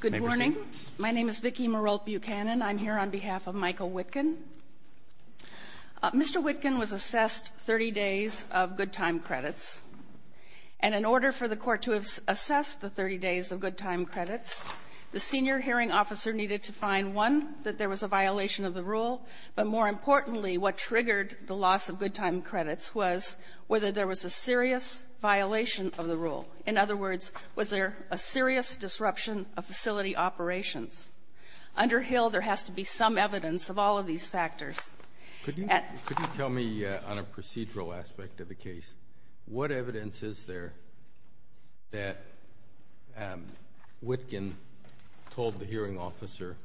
Good morning. My name is Vicki Marolt Buchanan. I'm here on behalf of Michael Witkin. Mr. Witkin was assessed 30 days of good time credits. And in order for the court to assess the 30 days of good time credits, the senior hearing officer needed to find, one, that there was a violation of the rule, but more importantly, what triggered the loss of good time credits was whether there was a serious violation of the rule. In other words, was there a serious disruption of facility operations? Under Hill, there has to be some evidence of all of these factors. Could you tell me, on a procedural aspect of the case, what evidence is there that Witkin told the hearing officer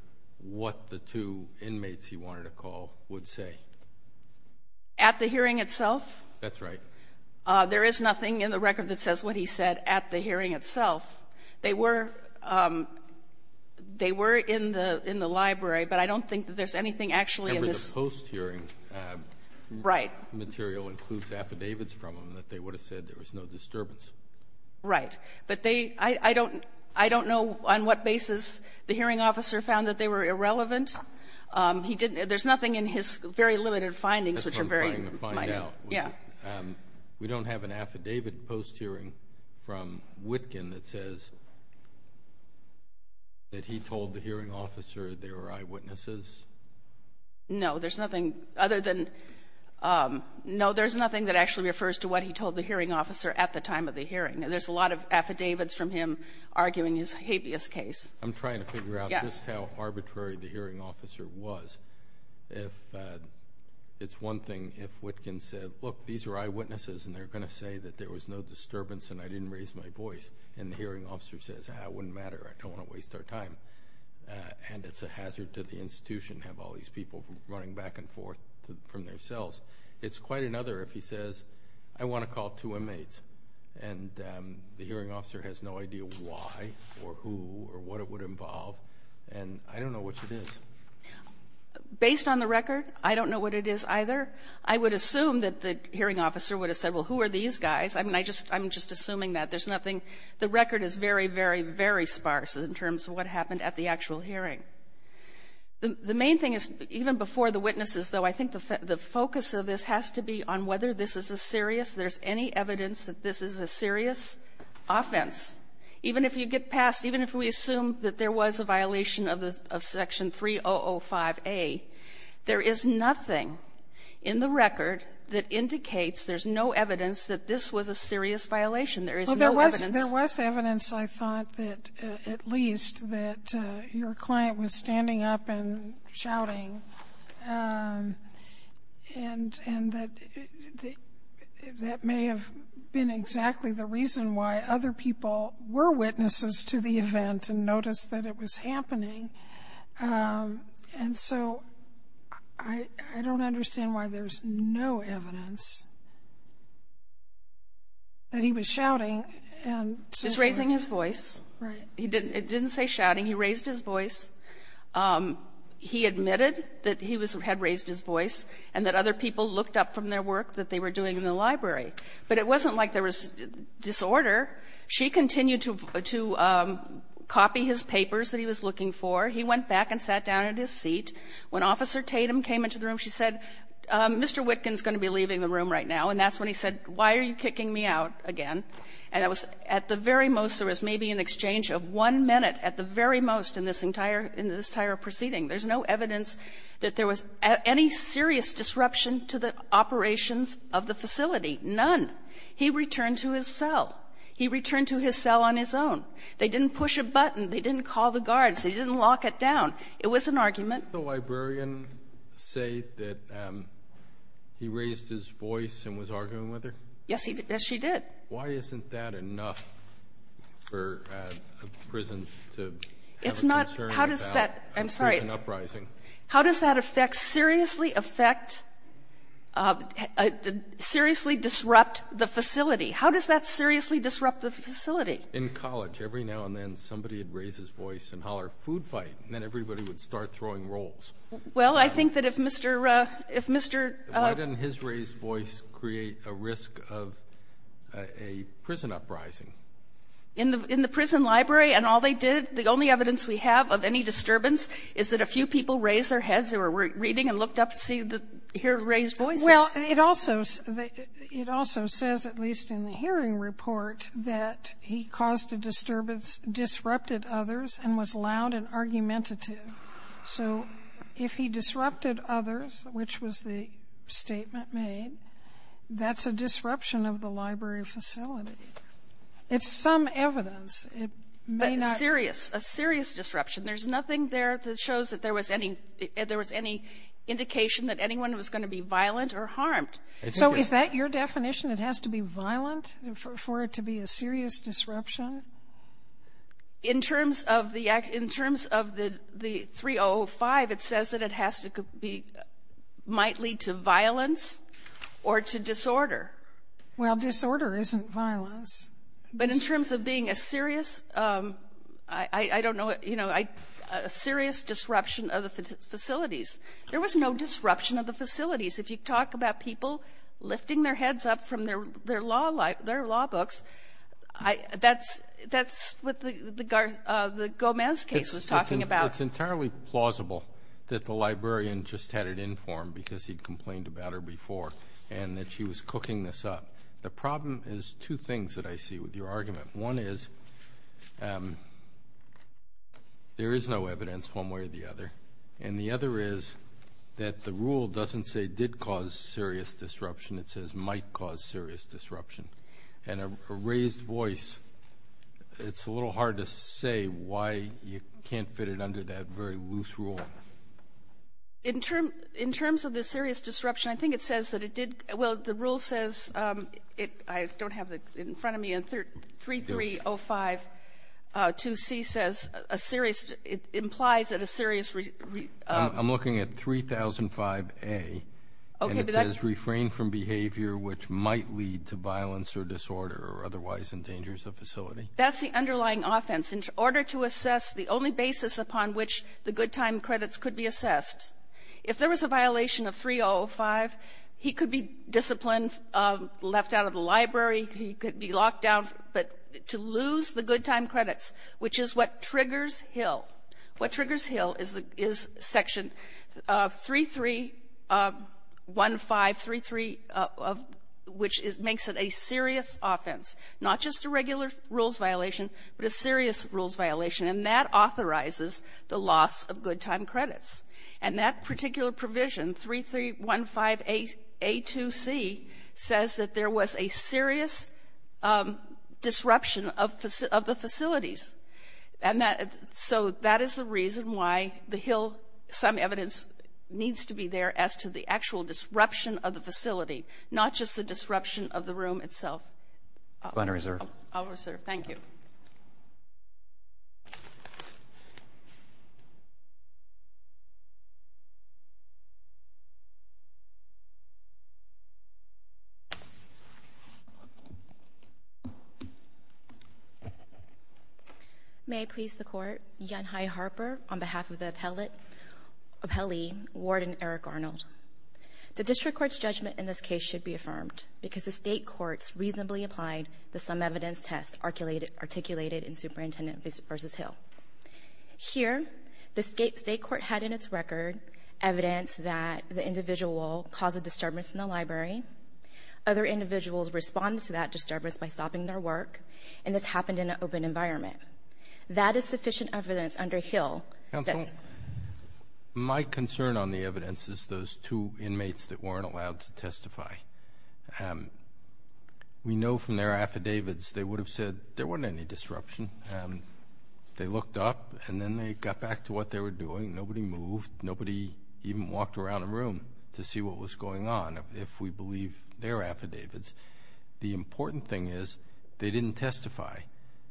what the two inmates he wanted to call would say? At the hearing itself? That's right. There is nothing in the record that says what he said at the hearing itself. They were in the library, but I don't think that there's anything actually in this. Remember, the post-hearing material includes affidavits from them that they would have said there was no disturbance. Right. But they — I don't know on what basis the hearing officer found that they were irrelevant. He didn't — there's nothing in his very limited findings, which are very — we don't have an affidavit post-hearing from Witkin that says that he told the hearing officer there were eyewitnesses. No, there's nothing other than — no, there's nothing that actually refers to what he told the hearing officer at the time of the hearing. There's a lot of affidavits from him arguing his habeas case. I'm trying to figure out just how arbitrary the hearing officer was. If — it's one thing if Witkin said, look, these are eyewitnesses, and they're going to say that there was no disturbance and I didn't raise my voice. And the hearing officer says, ah, it wouldn't matter. I don't want to waste our time. And it's a hazard to the institution to have all these people running back and forth from their cells. It's quite another if he says, I want to call two inmates. And the hearing officer has no idea why or who or what it would involve. And I don't know what it is. Based on the record, I don't know what it is either. I would assume that the hearing officer would have said, well, who are these guys? I mean, I just — I'm just assuming that. There's nothing — the record is very, very, very sparse in terms of what happened at the actual hearing. The main thing is, even before the witnesses, though, I think the focus of this has to be on whether this is a serious — there's any evidence that this is a serious offense. Even if you get past — even if we assume that there was a violation of Section 3005A, there is nothing in the record that indicates there's no evidence that this was a serious violation. There is no evidence. Well, there was — there was evidence, I thought, that — at least, that your client was standing up and shouting. And that — that may have been exactly the reason why other people were witnesses to the event and noticed that it was happening. And so I don't understand why there's no evidence that he was shouting and — Just raising his voice. Right. It didn't say shouting. He raised his voice. He admitted that he was — had raised his voice and that other people looked up from their work that they were doing in the library. But it wasn't like there was disorder. She continued to — to copy his papers that he was looking for. He went back and sat down at his seat. When Officer Tatum came into the room, she said, Mr. Witkin's going to be leaving the room right now. And that's when he said, why are you kicking me out again? And that was — at the very most, there was maybe an exchange of one minute at the very most in this entire — in this entire proceeding. There's no evidence that there was any serious disruption to the operations of the facility. None. He returned to his cell. He returned to his cell on his own. They didn't push a button. They didn't call the guards. They didn't lock it down. It was an argument. Did the librarian say that he raised his voice and was arguing with her? Yes, he did. Why isn't that enough for a prison to have a concern about a prison uprising? It's not — how does that — I'm sorry. How does that affect — seriously affect — seriously disrupt the facility? How does that seriously disrupt the facility? In college, every now and then, somebody would raise his voice and holler, food fight, and then everybody would start throwing rolls. Well, I think that if Mr. — if Mr. Why didn't his raised voice create a risk of a prison uprising? In the — in the prison library and all they did, the only evidence we have of any disturbance is that a few people raised their heads. They were reading and looked up to see the — hear raised voices. Well, it also — it also says, at least in the hearing report, that he caused a disturbance, disrupted others, and was loud and argumentative. So if he disrupted others, which was the statement made, that's a disruption of the library facility. It's some evidence. It may not — But serious, a serious disruption. There's nothing there that shows that there was any — there was any indication that anyone was going to be violent or harmed. So is that your definition? It has to be violent for it to be a serious disruption? In terms of the — in terms of the 3005, it says that it has to be — might lead to violence or to disorder. Well, disorder isn't violence. But in terms of being a serious — I don't know what — you know, a serious disruption of the facilities. If you talk about people lifting their heads up from their law books, that's what the Gomez case was talking about. It's entirely plausible that the librarian just had it informed because he complained about her before and that she was cooking this up. The problem is two things that I see with your argument. One is there is no evidence one way or the other. And the other is that the rule doesn't say did cause serious disruption. It says might cause serious disruption. And a raised voice, it's a little hard to say why you can't fit it under that very loose rule. In terms of the serious disruption, I think it says that it did — well, the rule says — I don't have it in front of me. And 3305-2C says a serious — implies that a serious — I'm looking at 3005-A. And it says refrain from behavior which might lead to violence or disorder or otherwise endangers a facility. That's the underlying offense. In order to assess the only basis upon which the good time credits could be assessed, if there was a violation of 3005, he could be disciplined, left out of the library, he could be locked down, but to lose the good time credits, which is what triggers Hill. What triggers Hill is Section 331533, which makes it a serious offense. Not just a regular rules violation, but a serious rules violation. And that authorizes the loss of good time credits. And that particular provision, 3315-A2C, says that there was a serious disruption of the facilities. And so that is the reason why the Hill — some evidence needs to be there as to the actual disruption of the facility, not just the disruption of the room itself. I'll reserve. I'll reserve. Thank you. May I please the Court? Yanhai Harper on behalf of the appellee, Warden Eric Arnold. The district court's judgment in this case should be affirmed because the state courts reasonably applied the sum evidence test articulated in Superintendent v. Hill. Here, the state court had in its record evidence that the individual caused a disturbance in the library. Other individuals responded to that disturbance by stopping their work, and this happened in an open environment. That is sufficient evidence under Hill that — There were two inmates that weren't allowed to testify. We know from their affidavits they would have said there wasn't any disruption. They looked up, and then they got back to what they were doing. Nobody moved. Nobody even walked around the room to see what was going on, if we believe their affidavits. The important thing is they didn't testify.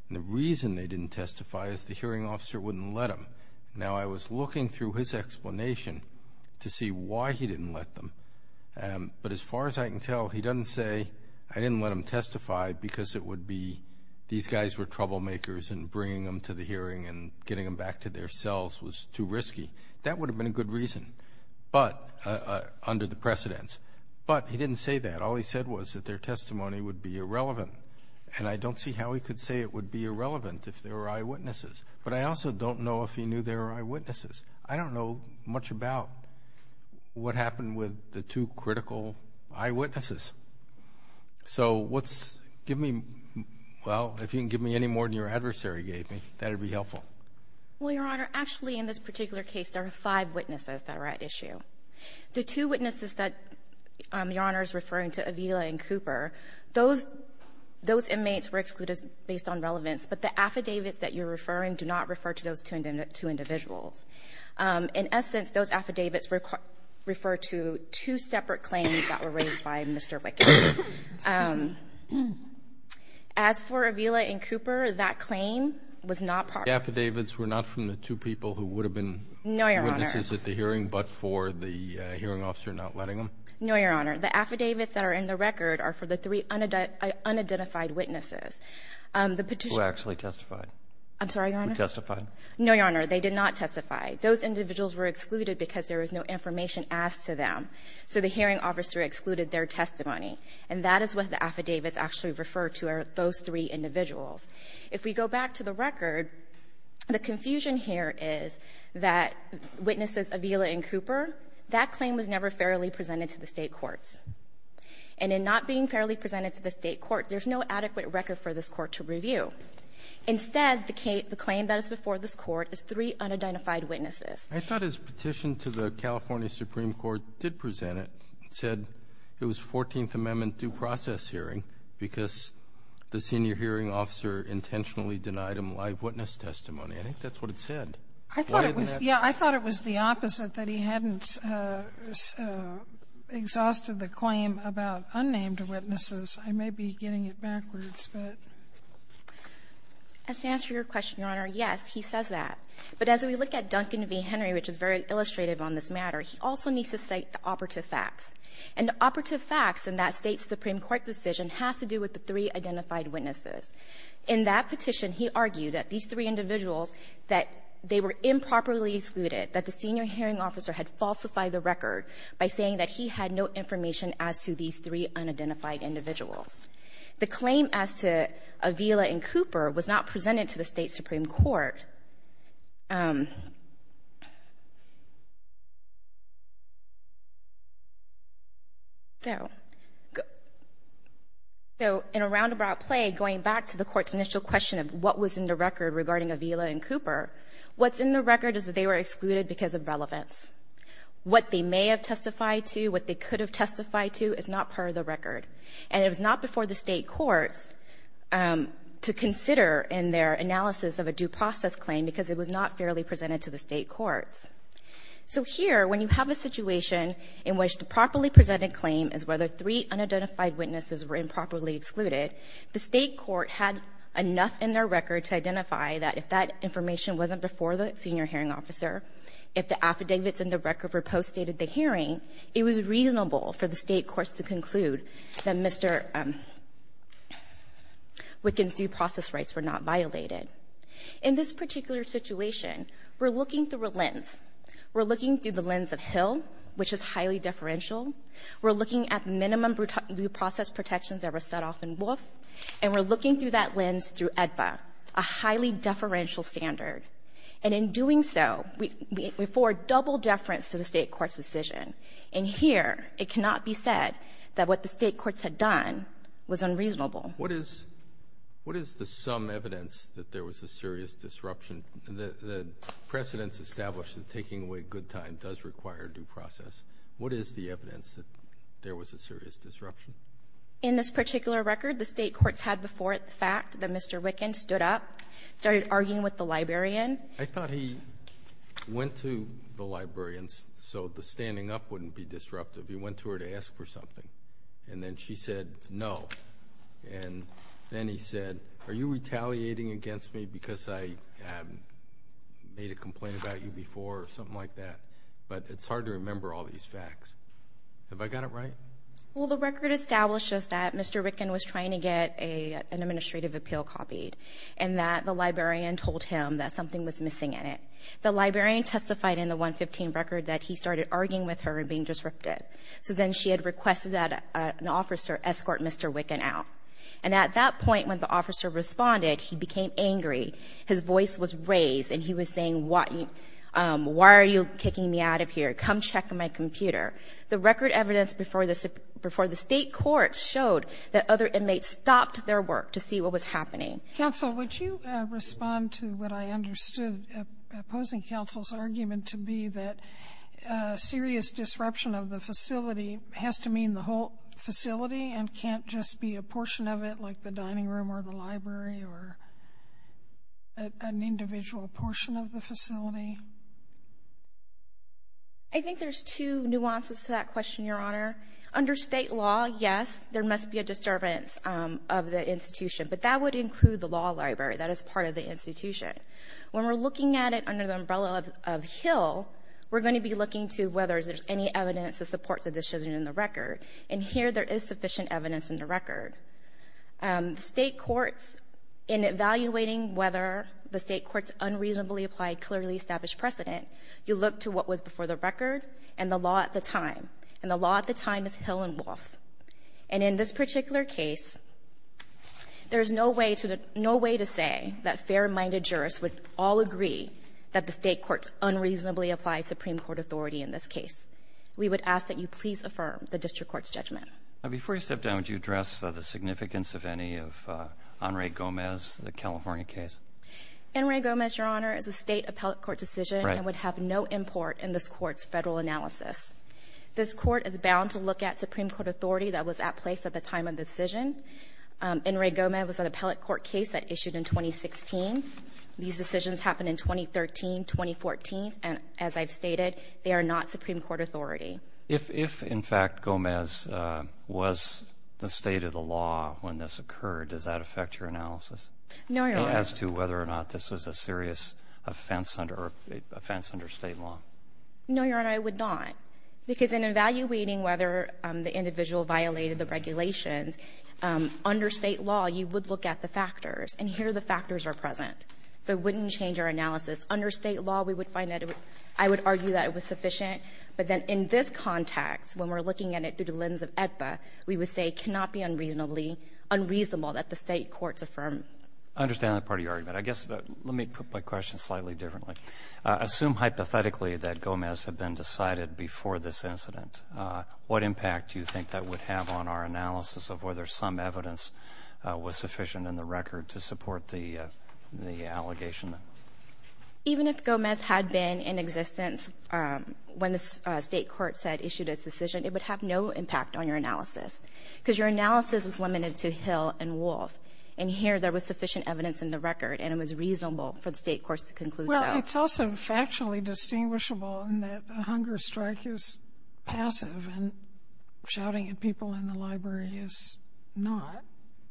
And the reason they didn't testify is the hearing officer wouldn't let them. Now, I was looking through his explanation to see why he didn't let them, but as far as I can tell, he doesn't say, I didn't let them testify because it would be these guys were troublemakers and bringing them to the hearing and getting them back to their cells was too risky. That would have been a good reason under the precedence, but he didn't say that. All he said was that their testimony would be irrelevant, and I don't see how he could say it would be irrelevant if there were eyewitnesses. But I also don't know if he knew there were eyewitnesses. I don't know much about what happened with the two critical eyewitnesses. So what's giving me, well, if you can give me any more than your adversary gave me, that would be helpful. Well, Your Honor, actually in this particular case there are five witnesses that are at issue. The two witnesses that Your Honor is referring to, Avila and Cooper, those inmates were excluded based on relevance, but the affidavits that you're referring do not refer to those two individuals. In essence, those affidavits refer to two separate claims that were raised by Mr. Wickett. As for Avila and Cooper, that claim was not part of the case. The affidavits were not from the two people who would have been witnesses at the hearing, but for the hearing officer not letting them? No, Your Honor. The affidavits that are in the record are for the three unidentified witnesses. Who actually testified? I'm sorry, Your Honor? Who testified? No, Your Honor. They did not testify. Those individuals were excluded because there was no information asked to them. So the hearing officer excluded their testimony. And that is what the affidavits actually refer to are those three individuals. If we go back to the record, the confusion here is that witnesses Avila and Cooper, that claim was never fairly presented to the State courts. And in not being fairly presented to the State court, there's no adequate record for this court to review. Instead, the claim that is before this court is three unidentified witnesses. I thought his petition to the California Supreme Court did present it. It said it was 14th Amendment due process hearing because the senior hearing officer intentionally denied him live witness testimony. I think that's what it said. I thought it was the opposite, that he hadn't exhausted the claim about unnamed witnesses. I may be getting it backwards, but. As to answer your question, Your Honor, yes, he says that. But as we look at Duncan v. Henry, which is very illustrative on this matter, he also needs to cite the operative facts. And the operative facts in that State supreme court decision has to do with the three identified witnesses. In that petition, he argued that these three individuals, that they were improperly excluded, that the senior hearing officer had falsified the record by saying that he had no information as to these three unidentified individuals. The claim as to Avila and Cooper was not presented to the State supreme court. So in a roundabout play, going back to the court's initial question of what was in the record regarding Avila and Cooper, what's in the record is that they were excluded because of relevance. What they may have testified to, what they could have testified to is not part of the record. And it was not before the State courts to consider in their analysis of a due process claim because it was not fairly presented to the State courts. So here, when you have a situation in which the properly presented claim is whether three unidentified witnesses were improperly excluded, the State court had enough in their record to identify that if that information wasn't before the senior hearing officer, if the affidavits in the record were postdated at the hearing, it was reasonable for the State courts to conclude that Mr. Wicken's due process rights were not violated. In this particular situation, we're looking through a lens. We're looking through the lens of Hill, which is highly deferential. We're looking at minimum due process protections that were set off in Wolf, and we're looking through that lens through AEDPA, a highly deferential standard. And in doing so, we afford double deference to the State court's decision. And here, it cannot be said that what the State courts had done was unreasonable. What is the sum evidence that there was a serious disruption? The precedents establish that taking away good time does require due process. What is the evidence that there was a serious disruption? In this particular record, the State courts had before it the fact that Mr. Wicken stood up, started arguing with the librarian. I thought he went to the librarian so the standing up wouldn't be disruptive. He went to her to ask for something, and then she said no. And then he said, are you retaliating against me because I made a complaint about you before or something like that? But it's hard to remember all these facts. Have I got it right? Well, the record establishes that Mr. Wicken was trying to get an administrative appeal copied and that the librarian told him that something was missing in it. The librarian testified in the 115 record that he started arguing with her and being disruptive. So then she had requested that an officer escort Mr. Wicken out. And at that point when the officer responded, he became angry. His voice was raised, and he was saying, why are you kicking me out of here? Come check my computer. The record evidence before the State courts showed that other inmates stopped their work to see what was happening. Counsel, would you respond to what I understood opposing counsel's argument to be that serious disruption of the facility has to mean the whole facility and can't just be a portion of it like the dining room or the library or an individual portion of the facility? I think there's two nuances to that question, Your Honor. Under State law, yes, there must be a disturbance of the institution, but that would include the law library. That is part of the institution. When we're looking at it under the umbrella of Hill, we're going to be looking to whether there's any evidence to support the decision in the record. And here there is sufficient evidence in the record. State courts, in evaluating whether the State courts unreasonably applied clearly established precedent, you look to what was before the record and the law at the time. And the law at the time is Hill and Wolfe. And in this particular case, there's no way to say that fair-minded jurists would all agree that the State courts unreasonably applied Supreme Court authority in this case. We would ask that you please affirm the district court's judgment. Now, before you step down, would you address the significance of any of Enrique Gomez, the California case? Enrique Gomez, Your Honor, is a State appellate court decision and would have no import in this Court's Federal analysis. This Court is bound to look at Supreme Court authority that was at place at the time of the decision. Enrique Gomez was an appellate court case that issued in 2016. These decisions happened in 2013, 2014. And as I've stated, they are not Supreme Court authority. If, in fact, Gomez was the State of the law when this occurred, does that affect your analysis? No, Your Honor. As to whether or not this was a serious offense under State law? No, Your Honor. It would not. Because in evaluating whether the individual violated the regulations, under State law, you would look at the factors. And here the factors are present. So it wouldn't change our analysis. Under State law, we would find that it would – I would argue that it was sufficient. But then in this context, when we're looking at it through the lens of AEDPA, we would say it cannot be unreasonably – unreasonable that the State courts affirm it. I understand that part of your argument. I guess let me put my question slightly differently. Assume hypothetically that Gomez had been decided before this incident. What impact do you think that would have on our analysis of whether some evidence was sufficient in the record to support the allegation? Even if Gomez had been in existence when the State courts had issued its decision, it would have no impact on your analysis. Because your analysis is limited to Hill and Wolfe. And here there was sufficient evidence in the record, and it was reasonable for the State courts to conclude so. It's also factually distinguishable in that a hunger strike is passive and shouting at people in the library is not.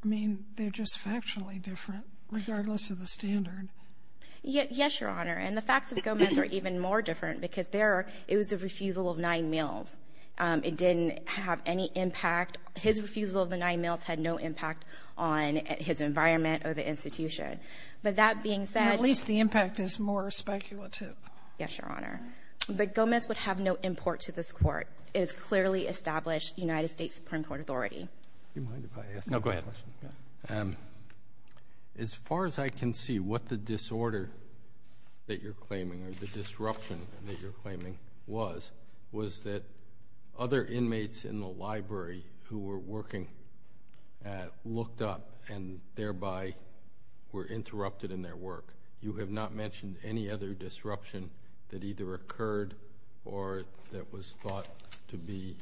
I mean, they're just factually different, regardless of the standard. Yes, Your Honor. And the facts of Gomez are even more different because there it was the refusal of nine meals. It didn't have any impact. His refusal of the nine meals had no impact on his environment or the institution. But that being said – It is more speculative. Yes, Your Honor. But Gomez would have no import to this court. It is clearly established United States Supreme Court authority. Do you mind if I ask a question? No, go ahead. As far as I can see, what the disorder that you're claiming or the disruption that you're claiming was, was that other inmates in the library who were working looked up and thereby were interrupted in their work. You have not mentioned any other disruption that either occurred or that was thought to be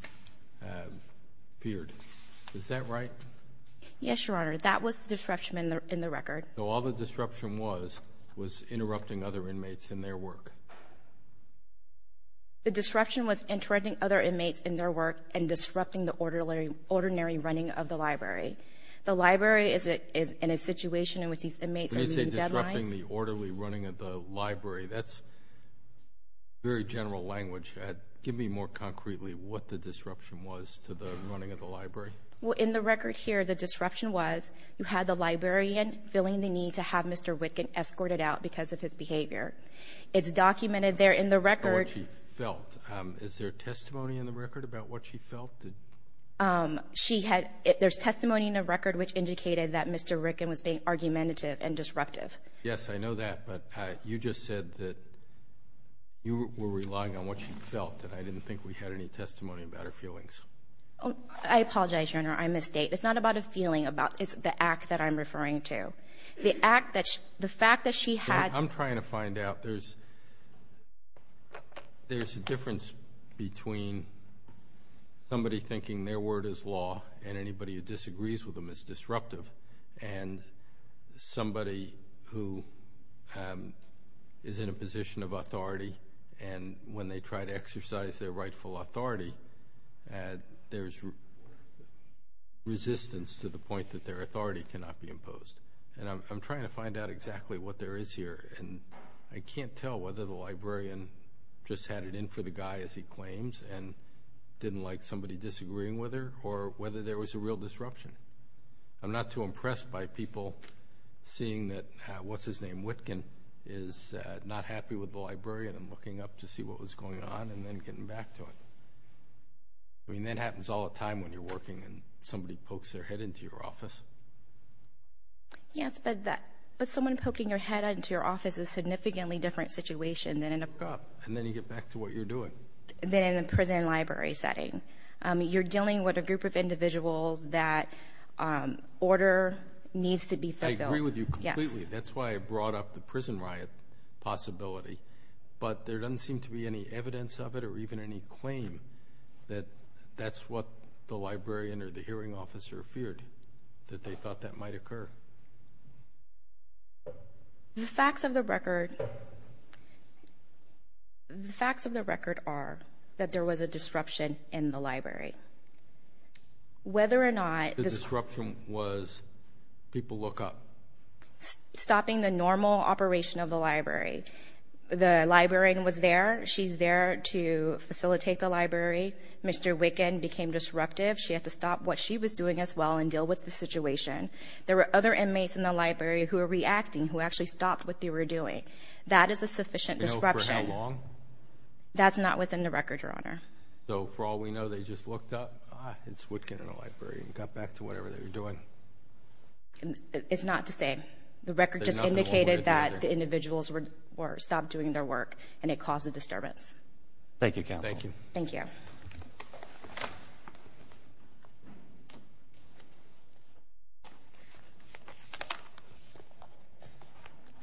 feared. Is that right? Yes, Your Honor. That was the disruption in the record. So all the disruption was, was interrupting other inmates in their work. The disruption was interrupting other inmates in their work and disrupting the ordinary running of the library. The library is in a situation in which these inmates are meeting deadlines. Interrupting the orderly running of the library. That's very general language. Give me more concretely what the disruption was to the running of the library. Well, in the record here, the disruption was you had the librarian feeling the need to have Mr. Wittgen escorted out because of his behavior. It's documented there in the record. What she felt. Is there testimony in the record about what she felt? There's testimony in the record which indicated that Mr. Wittgen was being argumentative and Yes, I know that. But you just said that you were relying on what she felt. And I didn't think we had any testimony about her feelings. I apologize, Your Honor. I misstate. It's not about a feeling. It's the act that I'm referring to. The act that she, the fact that she had. I'm trying to find out. There's a difference between somebody thinking their word is law and anybody who disagrees with them. It's disruptive. And somebody who is in a position of authority and when they try to exercise their rightful authority, there's resistance to the point that their authority cannot be imposed. And I'm trying to find out exactly what there is here. And I can't tell whether the librarian just had it in for the guy as he claims and didn't like somebody disagreeing with her or whether there was a real disruption. I'm not too impressed by people seeing that what's-his-name Wittgen is not happy with the librarian and looking up to see what was going on and then getting back to it. I mean, that happens all the time when you're working and somebody pokes their head into your office. Yes, but someone poking their head into your office is a significantly different situation than in a And then you get back to what you're doing. than in a prison and library setting. You're dealing with a group of individuals that order needs to be fulfilled. I agree with you completely. That's why I brought up the prison riot possibility. But there doesn't seem to be any evidence of it or even any claim that that's what the librarian or the hearing officer feared, that they thought that might occur. The facts of the record are that there was a disruption in the library. The disruption was people look up. Stopping the normal operation of the library. The librarian was there. She's there to facilitate the library. Mr. Wittgen became disruptive. She had to stop what she was doing as well and deal with the situation. There were other inmates in the library who were reacting, who actually stopped what they were doing. That is a sufficient disruption. Do you know for how long? That's not within the record, Your Honor. So, for all we know, they just looked up, ah, it's Wittgen in a library, and got back to whatever they were doing? It's not to say. The record just indicated that the individuals stopped doing their work, and it caused a disturbance. Thank you, Counsel. Thank you. Thank you.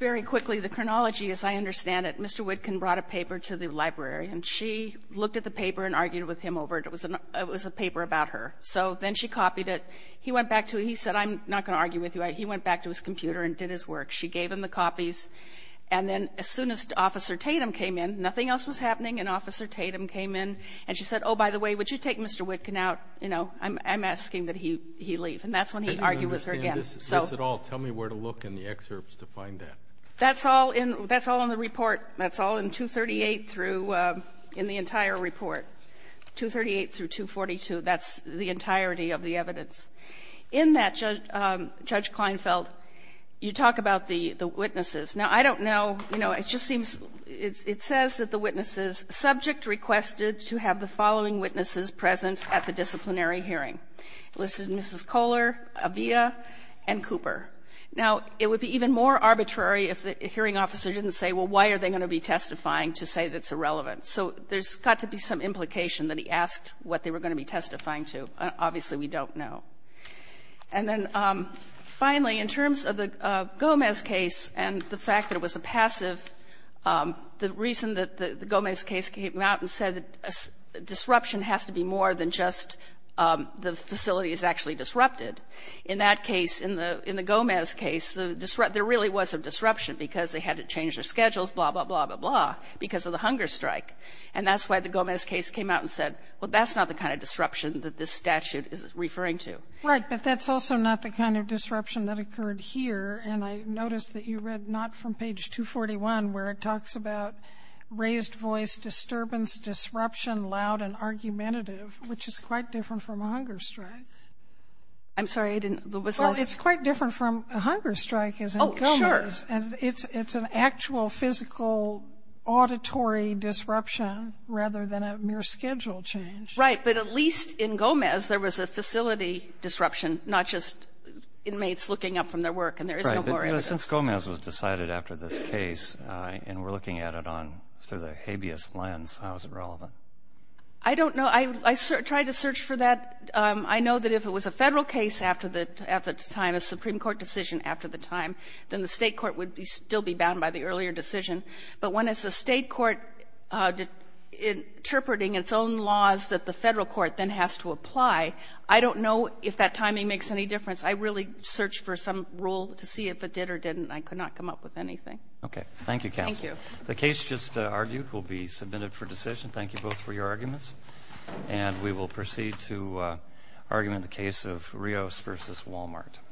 Very quickly, the chronology, as I understand it, Mr. Wittgen brought a paper to the librarian. She looked at the paper and argued with him over it. It was a paper about her. So then she copied it. He went back to it. He said, I'm not going to argue with you. He went back to his computer and did his work. She gave him the copies, and then as soon as Officer Tatum came in, nothing else was happening, and Officer Tatum came in, and she said, oh, by the way, would you take Mr. Wittgen out? You know, I'm asking that he leave. And that's when he argued with her again. I don't understand this at all. Tell me where to look in the excerpts to find that. That's all in the report. That's all in 238 through the entire report, 238 through 242. That's the entirety of the evidence. In that, Judge Kleinfeld, you talk about the witnesses. Now, I don't know, you know, it just seems it says that the witnesses, subject requested to have the following witnesses present at the disciplinary hearing. It listed Mrs. Kohler, Avia, and Cooper. Now, it would be even more arbitrary if the hearing officer didn't say, well, why are they going to be testifying to say that's irrelevant? So there's got to be some implication that he asked what they were going to be testifying to. Obviously, we don't know. And then finally, in terms of the Gomez case and the fact that it was a passive, the reason that the Gomez case came out and said that disruption has to be more than just the facility is actually disrupted, in that case, in the Gomez case, there really was a disruption because they had to change their schedules, blah, blah, blah, blah, blah, because of the hunger strike. And that's why the Gomez case came out and said, well, that's not the kind of disruption that this statute is referring to. Right. But that's also not the kind of disruption that occurred here. And I noticed that you read not from page 241, where it talks about raised voice, disturbance, disruption, loud and argumentative, which is quite different from a hunger strike. I'm sorry, I didn't. Well, it's quite different from a hunger strike, isn't it? Oh, sure. And it's an actual physical auditory disruption rather than a mere schedule change. Right. But at least in Gomez, there was a facility disruption, not just inmates looking up from their work. And there is no more evidence. Right. I don't know. I tried to search for that. I know that if it was a Federal case after the time, a Supreme Court decision after the time, then the State court would still be bound by the earlier decision. But when it's a State court interpreting its own laws that the Federal court then has to apply, I don't know if that timing makes any difference. I really searched for some rule to see if it did or didn't. I could not come up with anything. Okay. Thank you, counsel. Thank you. The case just argued will be submitted for decision. Thank you both for your arguments. And we will proceed to argument the case of Rios v. Walmart.